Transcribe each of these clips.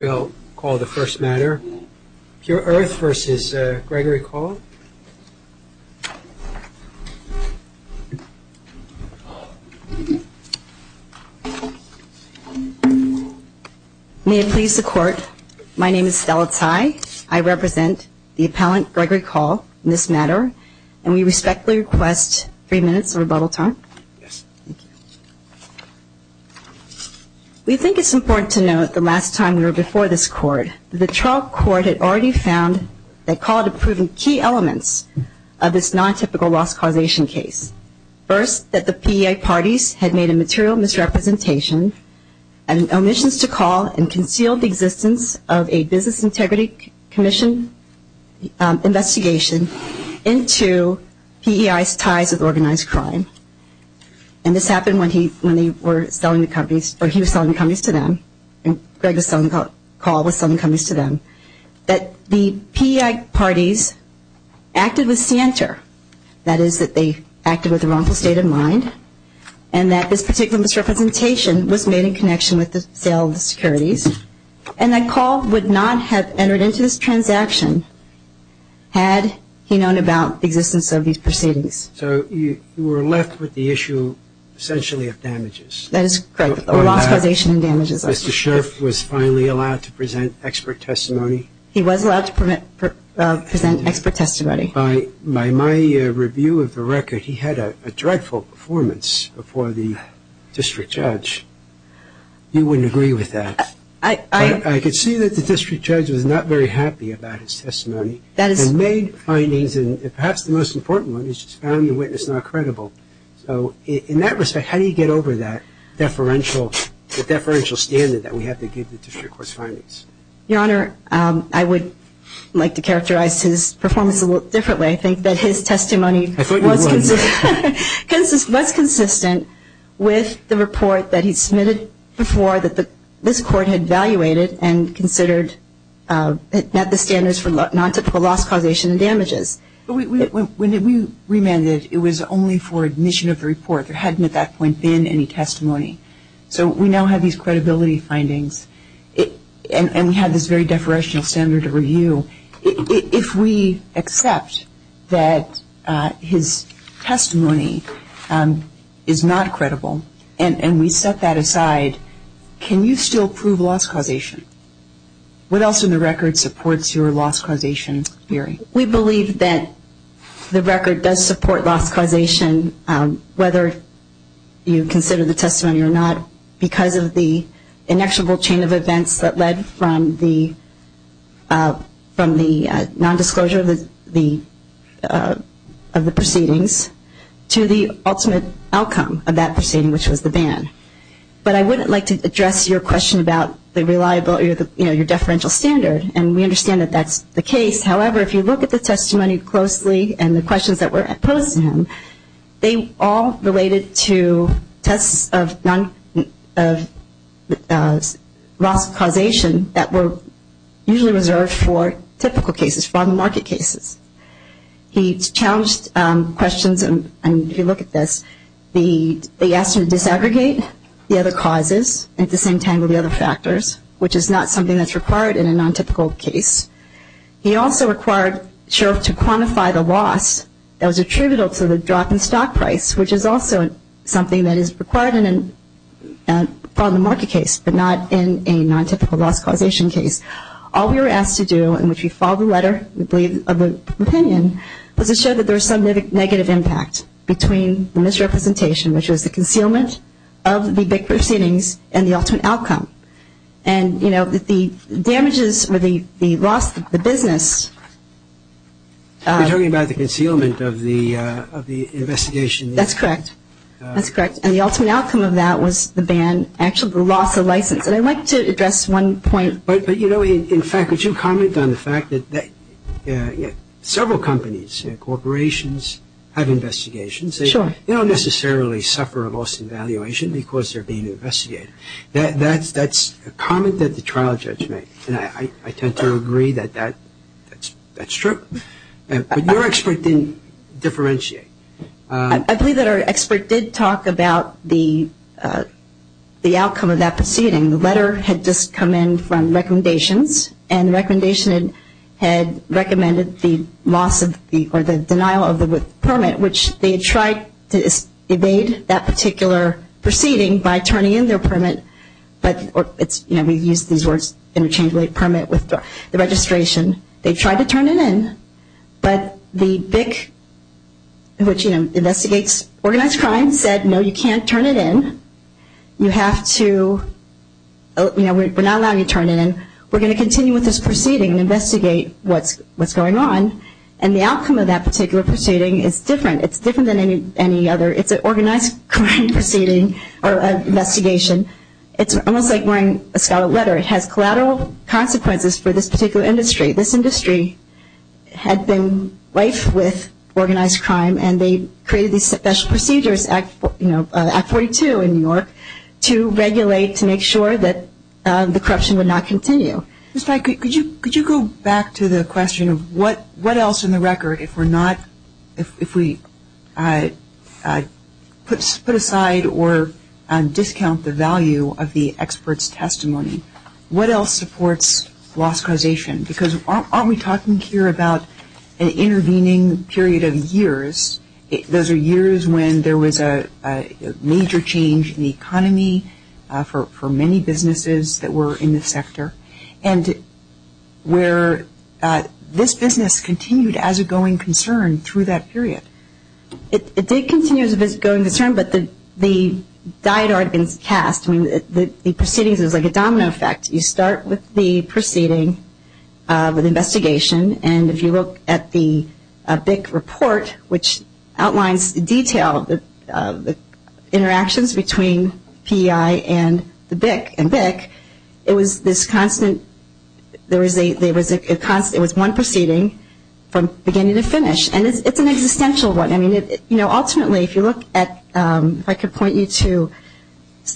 May I please the Court, my name is Stella Tsai, I represent the Appellant Gregory Call in this matter, and we respectfully request three minutes of rebuttal time. We think it's important to note that the last time we were before this Court, the trial court had already found that Call had proven key elements of this non-typical loss causation case. First, that the PEI parties had made a material misrepresentation and omissions to Call and concealed the existence of a Business Integrity Commission investigation into PEI's organized crime. And this happened when he was selling the companies to them, and Greg was selling Call to them, that the PEI parties acted with scienter, that is, that they acted with a wrongful state of mind, and that this particular misrepresentation was made in connection with the sale of the securities, and that Call would not have entered into this transaction had he known about the existence of these proceedings. So you were left with the issue, essentially, of damages. That is correct. Loss causation and damages. Mr. Sheriff was finally allowed to present expert testimony. He was allowed to present expert testimony. By my review of the record, he had a dreadful performance before the district judge. You wouldn't agree with that. I could see that the district judge was not very happy about his testimony. He made findings, and perhaps the most important one, he just found the witness not credible. So in that respect, how do you get over that deferential standard that we have to give the district court's findings? Your Honor, I would like to characterize his performance a little differently. I think that his testimony was consistent with the report that he submitted before, and I would like to clarify that this Court had evaluated and considered that the standards for non-typical loss causation and damages. When we remanded, it was only for admission of the report. There hadn't, at that point, been any testimony. So we now have these credibility findings, and we have this very deferential standard of review. If we accept that his testimony is not credible, and we set that aside, can you still prove loss causation? What else in the record supports your loss causation theory? We believe that the record does support loss causation, whether you consider the testimony or not, because of the inexorable chain of events that led from the nondisclosure of the proceedings to the ultimate outcome of that proceeding, which was the ban. But I would like to address your question about the reliability of your deferential standard, and we understand that that's the case. However, if you look at the testimony closely and the questions that were posed to him, they all related to tests of loss causation that were usually reserved for typical cases, for on-the-market cases. He challenged questions, and if you look at this, they asked him to disaggregate the other causes at the same time as the other factors, which is not something that's required in a non-typical case. He also required Sheriff to quantify the loss that was attributable to the drop in stock price, which is also something that is required in a on-the-market case, but not in a non-typical loss causation case. All we were asked to do, in which we followed the letter, we believe, of the opinion, was to show that there was some negative impact between the misrepresentation, which was the concealment of the big proceedings, and the ultimate outcome. And, you know, the damages, or the loss of the business. You're talking about the concealment of the investigation. That's correct. That's correct. And the ultimate outcome of that was the ban, actually the loss of license. And I'd like to address one point. But, you know, in fact, would you comment on the fact that several companies, corporations, have investigations. Sure. They don't necessarily suffer a loss in valuation because they're being investigated. That's a comment that the trial judge made. And I tend to agree that that's true. But your expert didn't differentiate. I believe that our expert did talk about the outcome of that proceeding. The letter had just come in from recommendations. And the recommendation had recommended the loss of the, or the denial of the permit. Which they tried to evade that particular proceeding by turning in their permit. But it's, you know, we use these words interchangeably, permit with the registration. They tried to turn it in. But the BIC, which, you know, investigates organized crime, said, no, you can't turn it in. You have to, you know, we're not allowing you to turn it in. We're going to continue with this proceeding and investigate what's going on. And the outcome of that particular proceeding is different. It's different than any other. It's an organized crime proceeding, or investigation. It's almost like wearing a scalloped letter. It has collateral consequences for this particular industry. This industry had been rife with organized crime. And they created these special procedures, you know, Act 42 in New York, to regulate, to make sure that the corruption would not continue. Ms. Pike, could you go back to the question of what else in the record if we're not, if we put aside or discount the value of the expert's testimony? What else supports loss causation? Because aren't we talking here about an intervening period of years? Those are years when there was a major change in the economy for many businesses that were in the sector, and where this business continued as a going concern through that period. It did continue as a going concern, but the die had already been cast. I mean, the proceedings, it was like a domino effect. You start with the proceeding, with investigation, and if you look at the BIC report, which outlines in detail the interactions between PEI and the BIC, and BIC, it was this constant, there was a constant, it was one proceeding from beginning to finish. And it's an existential one. I mean, you know, ultimately, if you look at, if I could point you to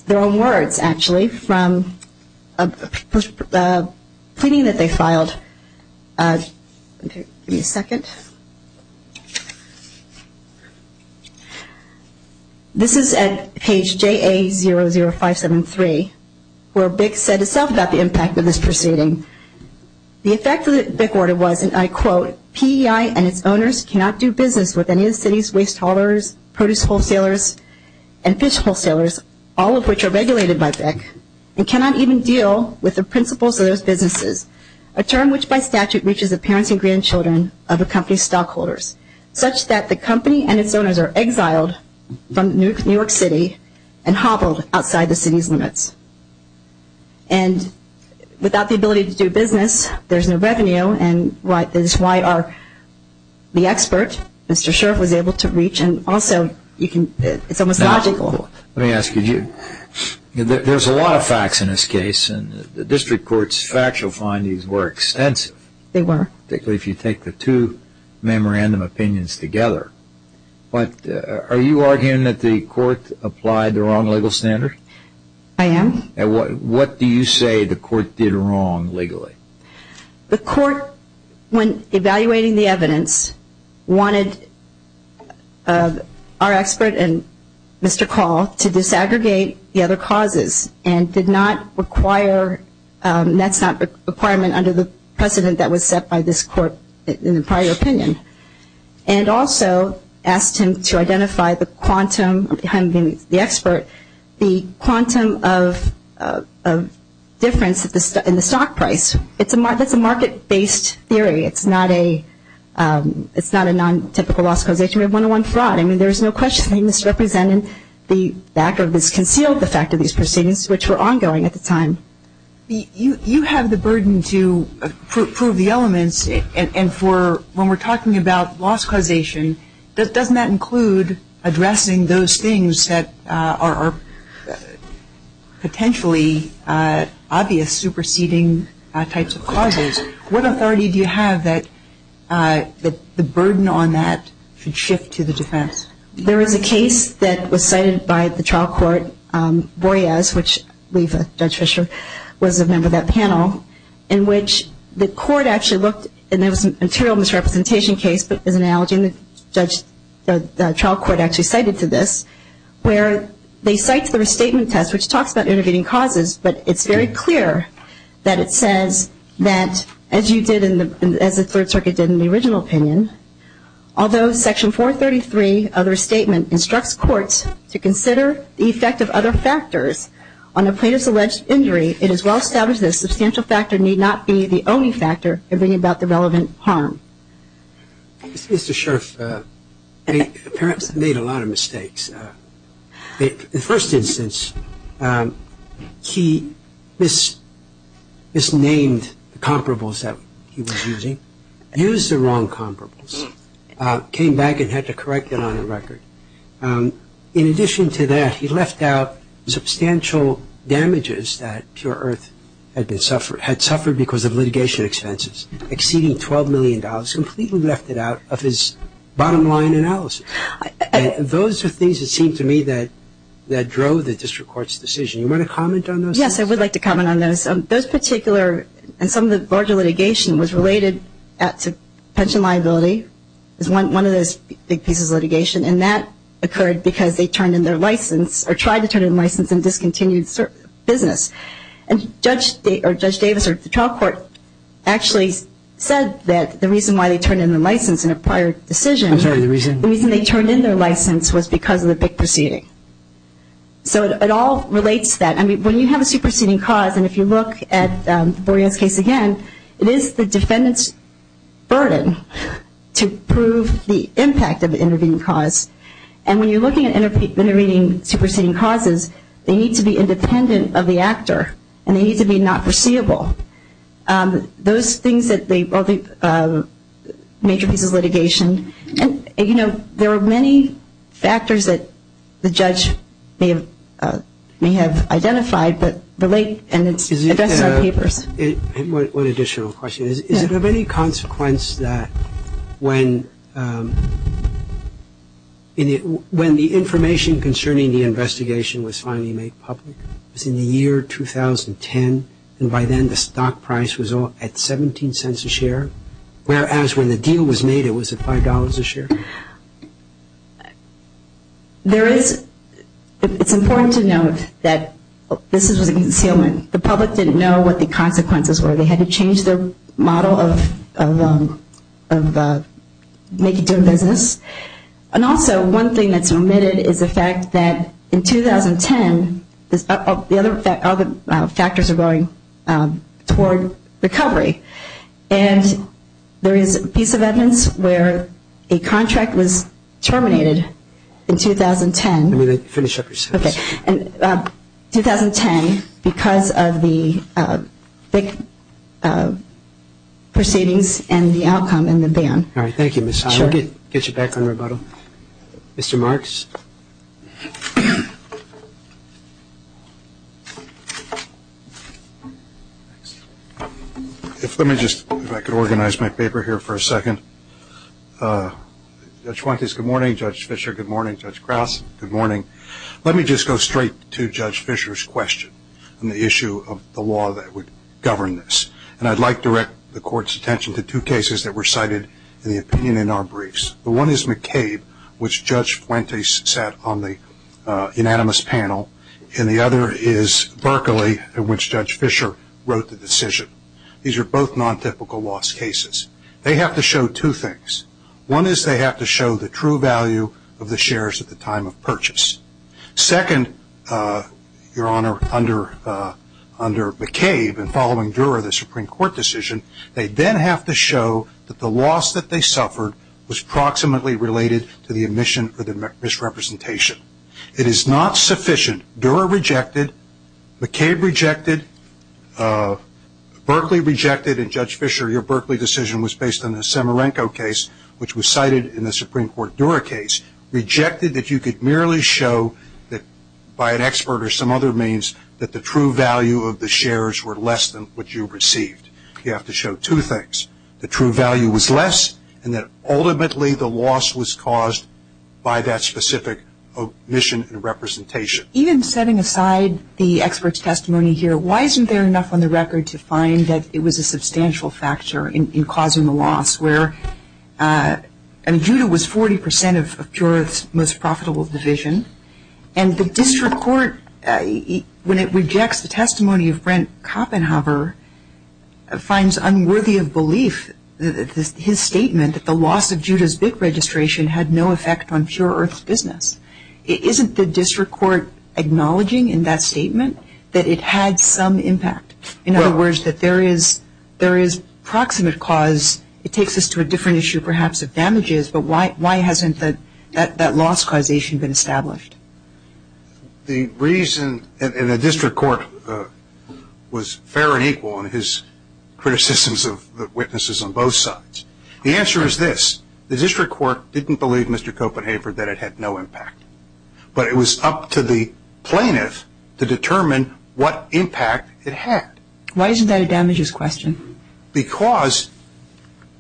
their own words, actually, from a pleading that they filed. Give me a second. This is at page JA00573, where BIC said itself about the impact of this proceeding. The effect of the BIC order was, and I quote, PEI and its owners cannot do business with any of the city's waste haulers, produce wholesalers, and fish wholesalers, all of which are regulated by BIC, and cannot even deal with the principles of those businesses. A term which, by statute, reaches the parents and grandchildren of a company's stockholders, such that the company and its owners are exiled from New York City and hobbled outside the city's limits. And without the ability to do business, there's no revenue, and this is why our, the expert, Mr. Scherff, was able to reach, and also, you can, it's almost logical. Let me ask you, there's a lot of facts in this case, and the district court's factual findings were extensive. They were. Particularly if you take the two memorandum opinions together. But are you arguing that the court applied the wrong legal standard? I am. And what do you say the court did wrong legally? The court, when evaluating the evidence, wanted our expert and Mr. Call to disaggregate the other causes, and did not require, that's not a requirement under the precedent that was set by this court in the prior opinion. And also, asked him to identify the quantum, behind being the expert, the quantum of difference in the stock price. It's a, that's a market-based theory. It's not a, it's not a non-typical loss causation. We have one-to-one fraud. I mean, there's no question that he misrepresented the fact, or misconceived the fact of these proceedings, which were ongoing at the time. You have the burden to prove the elements, and for, when we're talking about loss causation, doesn't that include addressing those things that are potentially obvious superseding types of causes? What authority do you have that the burden on that should shift to the defense? There is a case that was cited by the trial court, Boreas, which we've, Judge Fischer was a member of that panel, in which the court actually looked, and there was a material misrepresentation case, but there's an analogy, and the trial court actually cited to this, where they cite the restatement test, which talks about intervening causes, but it's very clear that it says that, as you did in the, as the Third Circuit did in the original opinion, although Section 433 of the restatement instructs courts to consider the effect of other factors on a plaintiff's alleged injury, it is well established that a substantial factor need not be the only factor in bringing about the relevant harm. Mr. Scherff, he apparently made a lot of mistakes. In the first instance, he misnamed the comparables that he was using, used the wrong comparables, came back and had to correct it on the record. In addition to that, he left out substantial damages that Pure Earth had suffered because of litigation expenses, exceeding $12 million, completely left it out of his bottom line analysis. Those are things that seem to me that drove the district court's decision. You want to comment on those? Yes, I would like to comment on those. Those particular, and some of the larger litigation was related to pension liability, is one of those big pieces of litigation, and that occurred because they turned in their license, or tried to turn in their license and discontinued business. And Judge Davis, or the trial court, actually said that the reason why they turned in their license in a prior decision, I'm sorry, the reason? The reason they turned in their license was because of the big proceeding. So it all relates to that. I mean, when you have a superseding cause, and if you look at the Boreas case again, it is the defendant's burden to prove the impact of the intervening cause. And when you're looking at intervening, superseding causes, they need to be independent of the actor, and they need to be not foreseeable. Those things that they, major pieces of litigation, and there are many factors that the judge may have identified, but relate, and it's addressed in our papers. One additional question. Is it of any consequence that when the information concerning the investigation was finally made public, it was in the year 2010, and by then the stock price was at $0.17 a share, whereas when the deal was made it was at $5 a share? There is, it's important to note that this was a concealment. The public didn't know what the consequences were. They had to change their model of making, doing business. And also, one thing that's omitted is the fact that in 2010, all the factors are going toward recovery. And there is a piece of evidence where a contract was terminated in 2010. Let me finish up your sentence. Okay. In 2010, because of the big proceedings and the outcome and the ban. All right. Thank you, Ms. Howard. Get you back on rebuttal. Mr. Marks. Let me just, if I could organize my paper here for a second. Judge Fuentes, good morning. Judge Fischer, good morning. Judge Krause, good morning. Let me just go straight to Judge Fischer's question on the issue of the law that would govern this. And I'd like to direct the Court's attention to two cases that were cited in the opinion in our briefs. The one is McCabe, which Judge Fuentes sat on the unanimous panel. And the other is Berkeley, in which Judge Fischer wrote the decision. These are both non-typical loss cases. They have to show two things. One is they have to show the true value of the shares at the time of purchase. Second, Your Honor, under McCabe and following Dura, the Supreme Court decision, they then have to show that the loss that they suffered was proximately related to the omission or the misrepresentation. It is not sufficient. Dura rejected. McCabe rejected. Berkeley rejected. And, Judge Fischer, your Berkeley decision was based on the Samarenko case, which was cited in the Supreme Court Dura case. Rejected that you could merely show that, by an expert or some other means, that the true value of the shares were less than what you received. You have to show two things, the true value was less, and that ultimately the loss was caused by that specific omission and representation. Even setting aside the expert's testimony here, why isn't there enough on the record to find that it was a substantial factor in causing the loss, where, I mean, Dura was 40% of Pure Earth's most profitable division, and the district court, when it rejects the testimony of Brent Kopenhauer, finds unworthy of belief his statement that the loss of Dura's big registration had no effect on Pure Earth's business. Isn't the district court acknowledging in that statement that it had some impact? In other words, that there is proximate cause, it takes us to a different issue, perhaps, of damages, but why hasn't that loss causation been established? The reason, and the district court was fair and equal in his criticisms of the witnesses on both sides. The answer is this. The district court didn't believe Mr. Kopenhauer that it had no impact. But it was up to the plaintiff to determine what impact it had. Why isn't that a damages question? Because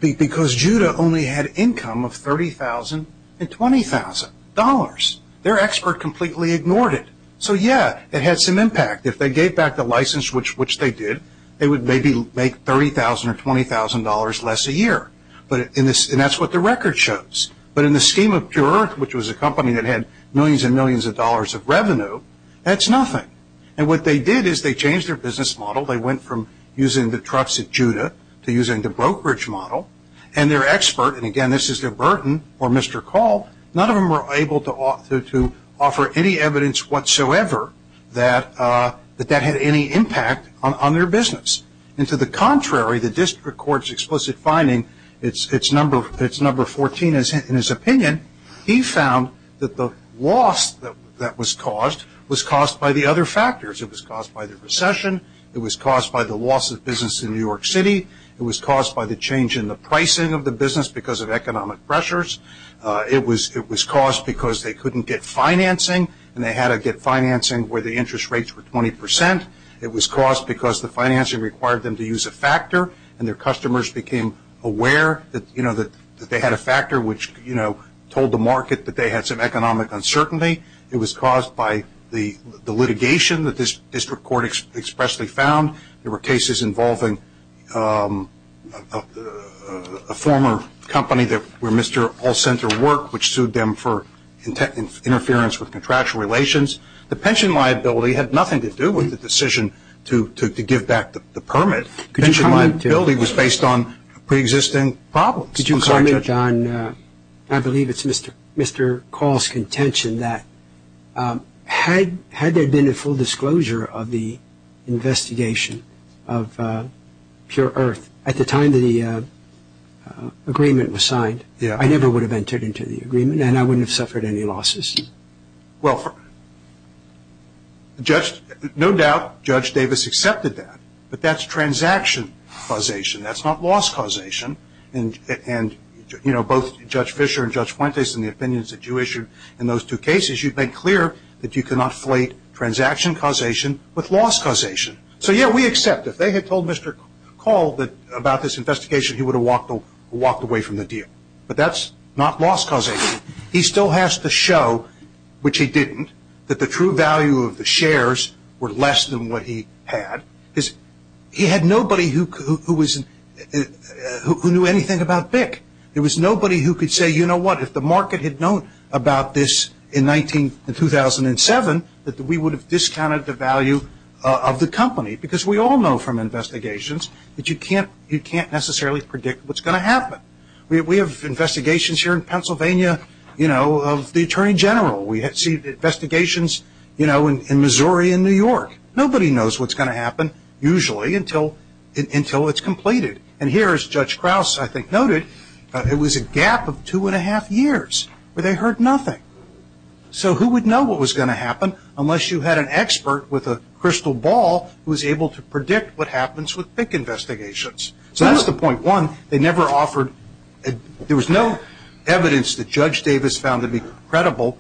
Judah only had income of $30,000 and $20,000. Their expert completely ignored it. So, yeah, it had some impact. If they gave back the license, which they did, they would maybe make $30,000 or $20,000 less a year. And that's what the record shows. But in the scheme of Pure Earth, which was a company that had millions and millions of dollars of revenue, that's nothing. And what they did is they changed their business model. They went from using the trucks at Judah to using the brokerage model. And their expert, and, again, this is their Burton or Mr. Call, none of them were able to offer any evidence whatsoever that that had any impact on their business. And to the contrary, the district court's explicit finding, it's number 14 in his opinion, he found that the loss that was caused was caused by the other factors. It was caused by the recession. It was caused by the loss of business in New York City. It was caused by the change in the pricing of the business because of economic pressures. It was caused because they couldn't get financing, and they had to get financing where the interest rates were 20%. It was caused because the financing required them to use a factor, and their customers became aware that they had a factor which told the market that they had some economic uncertainty. It was caused by the litigation that this district court expressly found. There were cases involving a former company where Mr. Hall sent their work, which sued them for interference with contractual relations. The pension liability had nothing to do with the decision to give back the permit. Pension liability was based on preexisting problems. Could you comment on, I believe it's Mr. Call's contention, that had there been a full disclosure of the investigation of Pure Earth at the time the agreement was signed, I never would have entered into the agreement, and I wouldn't have suffered any losses. Well, no doubt Judge Davis accepted that, but that's transaction causation. That's not loss causation, and both Judge Fischer and Judge Fuentes and the opinions that you issued in those two cases, you've made clear that you cannot flate transaction causation with loss causation. So, yeah, we accept. If they had told Mr. Call about this investigation, he would have walked away from the deal, but that's not loss causation. He still has to show, which he didn't, that the true value of the shares were less than what he had, because he had nobody who knew anything about BIC. There was nobody who could say, you know what, if the market had known about this in 2007, that we would have discounted the value of the company, because we all know from investigations that you can't necessarily predict what's going to happen. We have investigations here in Pennsylvania, you know, of the Attorney General. We see investigations, you know, in Missouri and New York. Nobody knows what's going to happen, usually, until it's completed. And here, as Judge Krause, I think, noted, it was a gap of two and a half years where they heard nothing. So who would know what was going to happen unless you had an expert with a crystal ball who was able to predict what happens with BIC investigations. So that's the point. One, they never offered – there was no evidence that Judge Davis found to be credible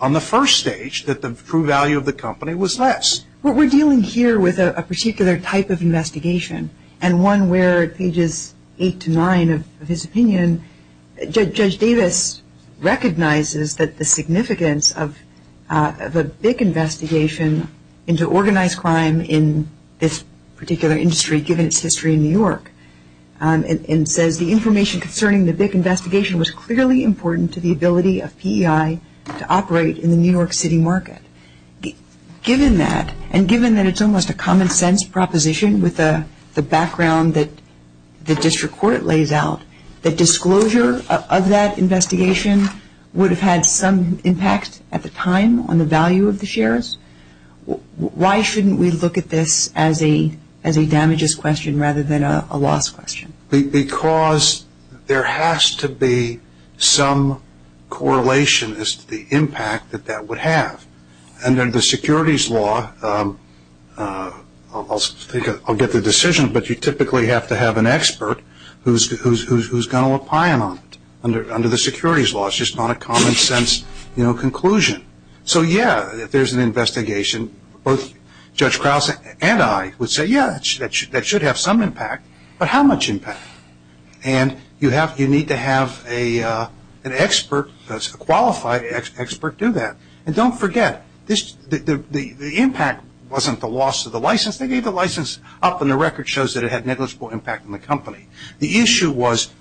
on the first stage that the true value of the company was less. But we're dealing here with a particular type of investigation, and one where pages eight to nine of his opinion, Judge Davis recognizes that the significance of a BIC investigation into organized crime in this particular industry, given its history in New York, and says the information concerning the BIC investigation was clearly important to the ability of PEI to operate in the New York City market. Given that, and given that it's almost a common-sense proposition with the background that the district court lays out, that disclosure of that investigation would have had some impact at the time on the value of the shares, why shouldn't we look at this as a damages question rather than a loss question? Because there has to be some correlation as to the impact that that would have. Under the securities law, I'll get the decision, but you typically have to have an expert who's going to opine on it. Under the securities law, it's just not a common-sense conclusion. So, yeah, if there's an investigation, both Judge Krause and I would say, yeah, that should have some impact, but how much impact? And you need to have an expert, a qualified expert do that. And don't forget, the impact wasn't the loss of the license. They gave the license up and the record shows that it had negligible impact on the company. The issue was,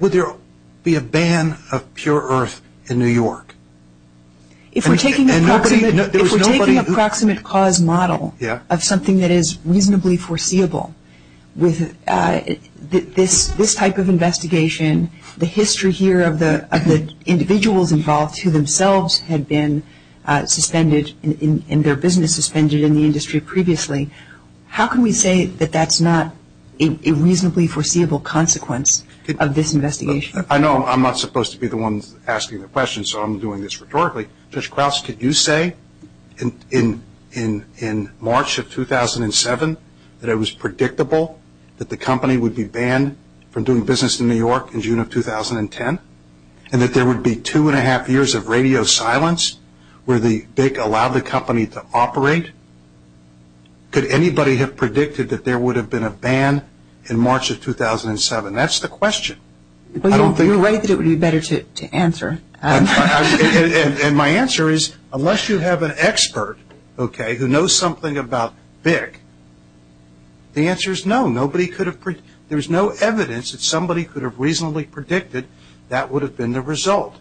would there be a ban of Pure Earth in New York? If we're taking a proximate cause model of something that is reasonably foreseeable, with this type of investigation, the history here of the individuals involved who themselves had been suspended and their business suspended in the industry previously, how can we say that that's not a reasonably foreseeable consequence of this investigation? I know I'm not supposed to be the one asking the question, so I'm doing this rhetorically. Judge Krause, could you say in March of 2007 that it was predictable that the company would be banned from doing business in New York in June of 2010 and that there would be two and a half years of radio silence where BIC allowed the company to operate? Could anybody have predicted that there would have been a ban in March of 2007? That's the question. You're right that it would be better to answer. And my answer is, unless you have an expert who knows something about BIC, the answer is no. There's no evidence that somebody could have reasonably predicted that would have been the result.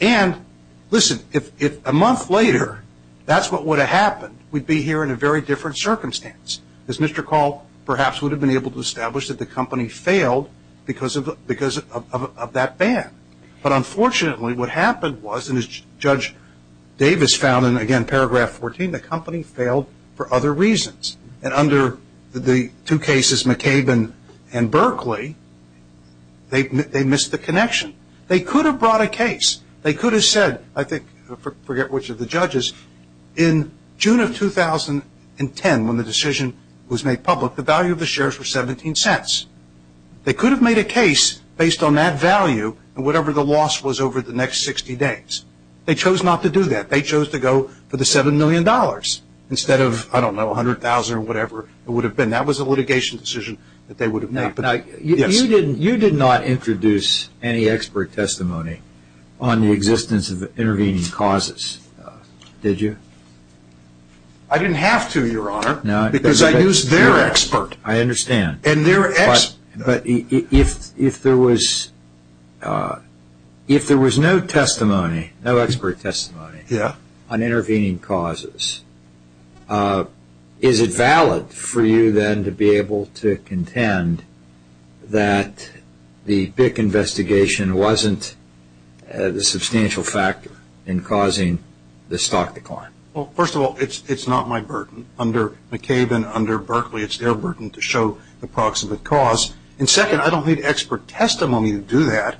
And listen, if a month later that's what would have happened, we'd be here in a very different circumstance. As Mr. Call perhaps would have been able to establish that the company failed because of that ban. But unfortunately what happened was, and as Judge Davis found in, again, paragraph 14, the company failed for other reasons. And under the two cases, McCabe and Berkeley, they missed the connection. They could have brought a case. They could have said, I forget which of the judges, in June of 2010 when the decision was made public, the value of the shares were $0.17. They could have made a case based on that value and whatever the loss was over the next 60 days. They chose not to do that. They chose to go for the $7 million instead of, I don't know, $100,000 or whatever it would have been. That was a litigation decision that they would have made. You did not introduce any expert testimony on the existence of intervening causes, did you? I didn't have to, Your Honor, because I used their expert. I understand. But if there was no testimony, no expert testimony on intervening causes, is it valid for you then to be able to contend that the BIC investigation wasn't a substantial factor in causing the stock decline? Well, first of all, it's not my burden. Under McCabe and under Berkeley, it's their burden to show the proximate cause. And second, I don't need expert testimony to do that.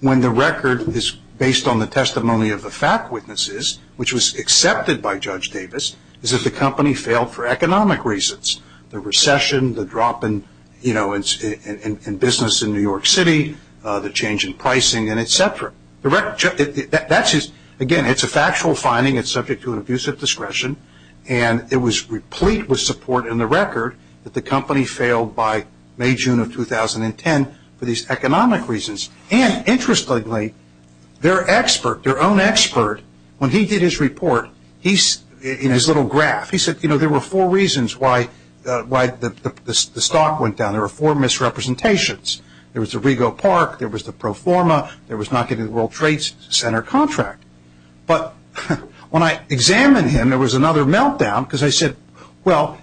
When the record is based on the testimony of the fact witnesses, which was accepted by Judge Davis, is that the company failed for economic reasons, the recession, the drop in business in New York City, the change in pricing, and et cetera. Again, it's a factual finding. It's subject to an abuse of discretion. And it was replete with support in the record that the company failed by May, June of 2010 for these economic reasons. And interestingly, their expert, their own expert, when he did his report, in his little graph, he said, you know, there were four reasons why the stock went down. There were four misrepresentations. There was the Rego Park. There was the Proforma. There was not getting the World Trade Center contract. But when I examined him, there was another meltdown because I said, well,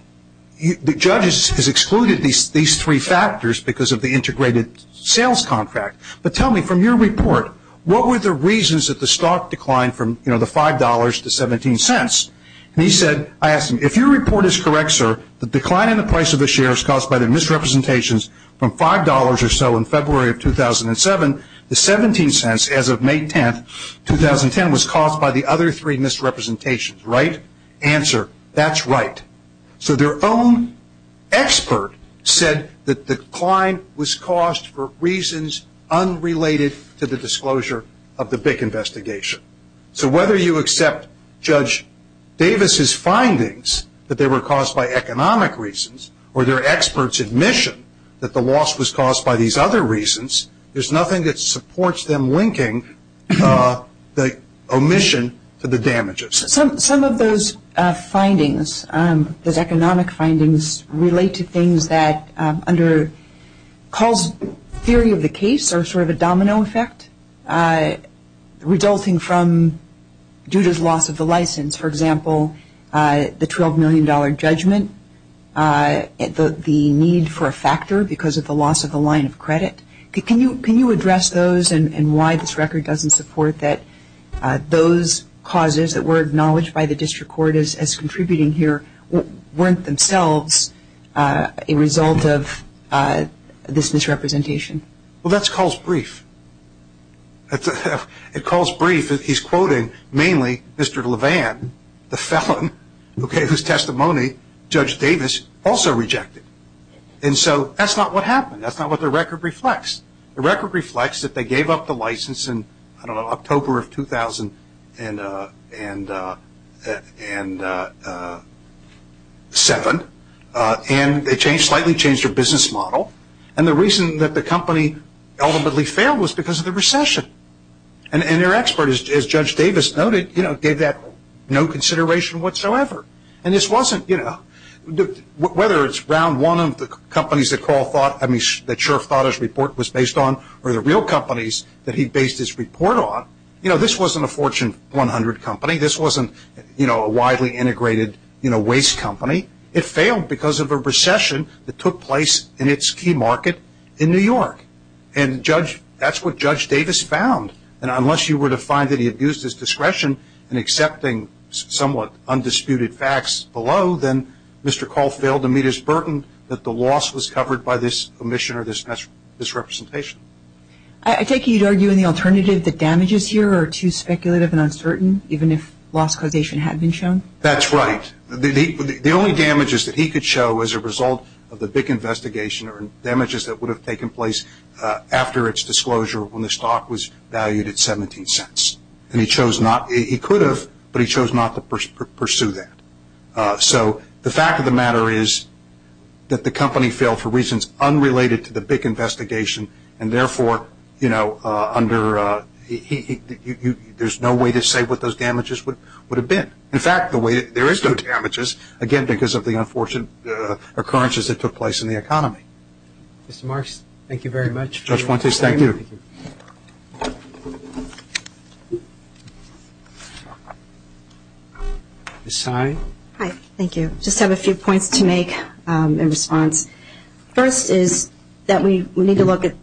the judge has excluded these three factors because of the integrated sales contract. But tell me, from your report, what were the reasons that the stock declined from, you know, the $5 to 17 cents? And he said, I asked him, if your report is correct, sir, the decline in the price of the share is caused by the misrepresentations from $5 or so in February of 2007, the 17 cents as of May 10, 2010 was caused by the other three misrepresentations, right? Answer, that's right. So their own expert said that the decline was caused for reasons unrelated to the disclosure of the BIC investigation. So whether you accept Judge Davis's findings that they were caused by economic reasons or their expert's admission that the loss was caused by these other reasons, there's nothing that supports them linking the omission to the damages. Some of those findings, those economic findings, relate to things that under Kahl's theory of the case are sort of a domino effect, resulting from Judah's loss of the license, for example, the $12 million judgment, the need for a factor because of the loss of the line of credit. Can you address those and why this record doesn't support that those causes that were acknowledged by the district court as contributing here weren't themselves a result of this misrepresentation? Well, that's Kahl's brief. It's Kahl's brief. He's quoting mainly Mr. Levan, the felon who gave his testimony, Judge Davis also rejected. And so that's not what happened. That's not what the record reflects. The record reflects that they gave up the license in, I don't know, October of 2007, and they slightly changed their business model. And the reason that the company ultimately failed was because of the recession. And their expert, as Judge Davis noted, gave that no consideration whatsoever. And this wasn't, you know, whether it's round one of the companies that Kahl thought, I mean that Scharf thought his report was based on, or the real companies that he based his report on, you know, this wasn't a Fortune 100 company. This wasn't, you know, a widely integrated, you know, waste company. It failed because of a recession that took place in its key market in New York. And that's what Judge Davis found. And unless you were to find that he abused his discretion in accepting somewhat undisputed facts below, then Mr. Kahl failed to meet his burden that the loss was covered by this omission or this misrepresentation. I take it you'd argue in the alternative that damages here are too speculative and uncertain, even if loss causation had been shown? That's right. The only damages that he could show as a result of the big investigation are damages that would have taken place after its disclosure when the stock was valued at 17 cents. And he chose not, he could have, but he chose not to pursue that. So the fact of the matter is that the company failed for reasons unrelated to the big investigation, and therefore, you know, under, there's no way to say what those damages would have been. In fact, the way, there is no damages, again, because of the unfortunate occurrences that took place in the economy. Mr. Marks, thank you very much. Judge Fuentes, thank you. Ms. Tsai? Hi, thank you. Just have a few points to make in response. First is that we need to look at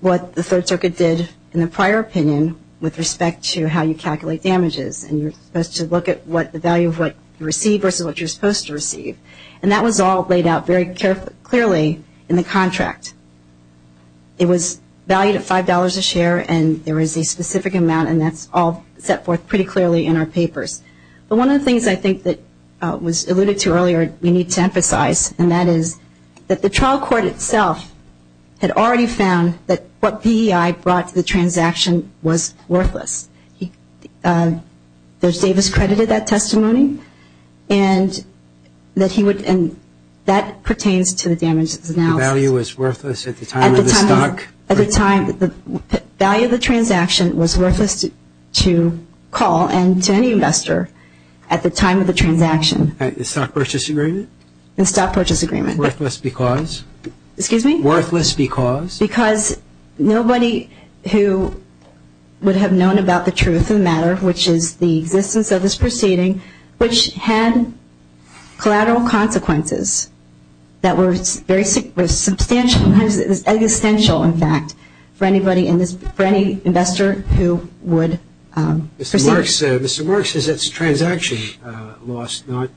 what the Third Circuit did in the prior opinion with respect to how you calculate damages. And you're supposed to look at what the value of what you receive versus what you're supposed to receive. And that was all laid out very clearly in the contract. It was valued at $5 a share, and there is a specific amount, and that's all set forth pretty clearly in our papers. But one of the things I think that was alluded to earlier we need to emphasize, and that is that the trial court itself had already found that what VEI brought to the transaction was worthless. Davis credited that testimony, and that pertains to the damages announced. The value was worthless at the time of the stock? At the time, the value of the transaction was worthless to call and to any investor at the time of the transaction. The stock purchase agreement? The stock purchase agreement. Worthless because? Excuse me? Worthless because? Because nobody who would have known about the truth of the matter, which is the existence of this proceeding, which had collateral consequences that were substantial, existential in fact, for any investor who would proceed. Mr. Marks says it's a transaction loss, not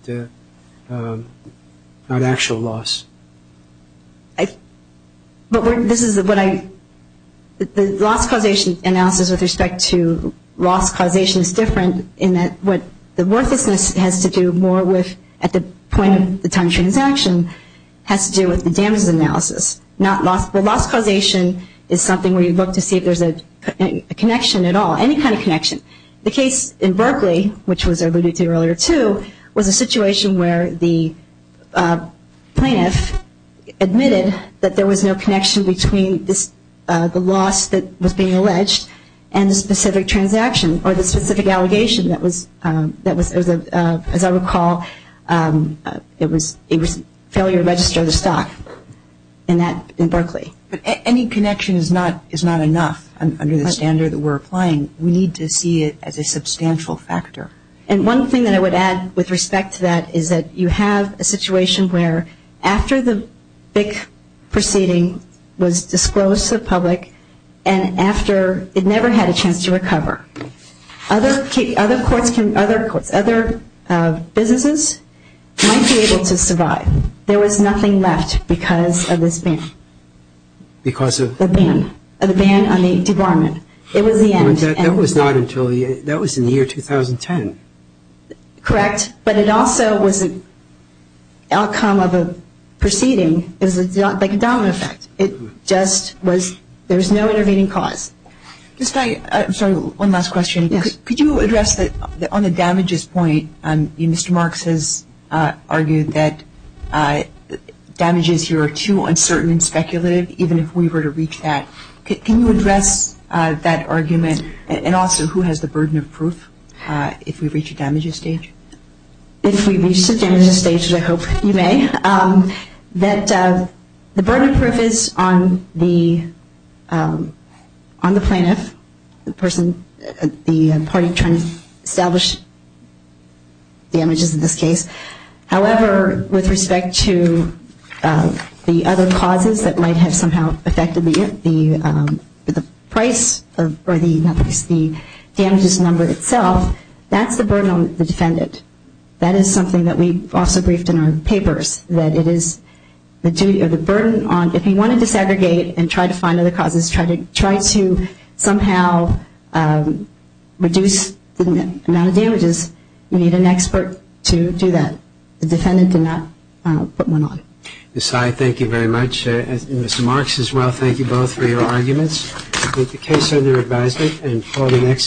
actual loss. The loss causation analysis with respect to loss causation is different in that what the worthlessness has to do more with at the point of the time of the transaction has to do with the damages analysis, not loss. The loss causation is something where you look to see if there's a connection at all, any kind of connection. The case in Berkeley, which was alluded to earlier too, was a situation where the plaintiff admitted that there was no connection between the loss that was being alleged and the specific transaction or the specific allegation that was, as I recall, it was a failure to register the stock in Berkeley. Any connection is not enough under the standard that we're applying. We need to see it as a substantial factor. And one thing that I would add with respect to that is that you have a situation where after the BIC proceeding was disclosed to the public and after it never had a chance to recover, other businesses might be able to survive. There was nothing left because of this ban. Because of? The ban on the debarment. It was the end. That was not until, that was in the year 2010. Correct. But it also was an outcome of a proceeding. It was like a dominant effect. It just was, there was no intervening cause. Just, I'm sorry, one last question. Yes. Could you address on the damages point, Mr. Marks has argued that damages here are too uncertain and speculative, even if we were to reach that. Can you address that argument and also who has the burden of proof if we reach a damages stage? If we reach the damages stage, I hope you may, that the burden of proof is on the plaintiff, the person, the party trying to establish damages in this case. However, with respect to the other causes that might have somehow affected the price or the damages number itself, that's the burden on the defendant. That is something that we also briefed in our papers, that it is the burden on, if you want to disaggregate and try to find other causes, try to somehow reduce the amount of damages, you need an expert to do that. The defendant did not put one on. Ms. Sy, thank you very much. Mr. Marks as well, thank you both for your arguments. With the case under advisement and for the next...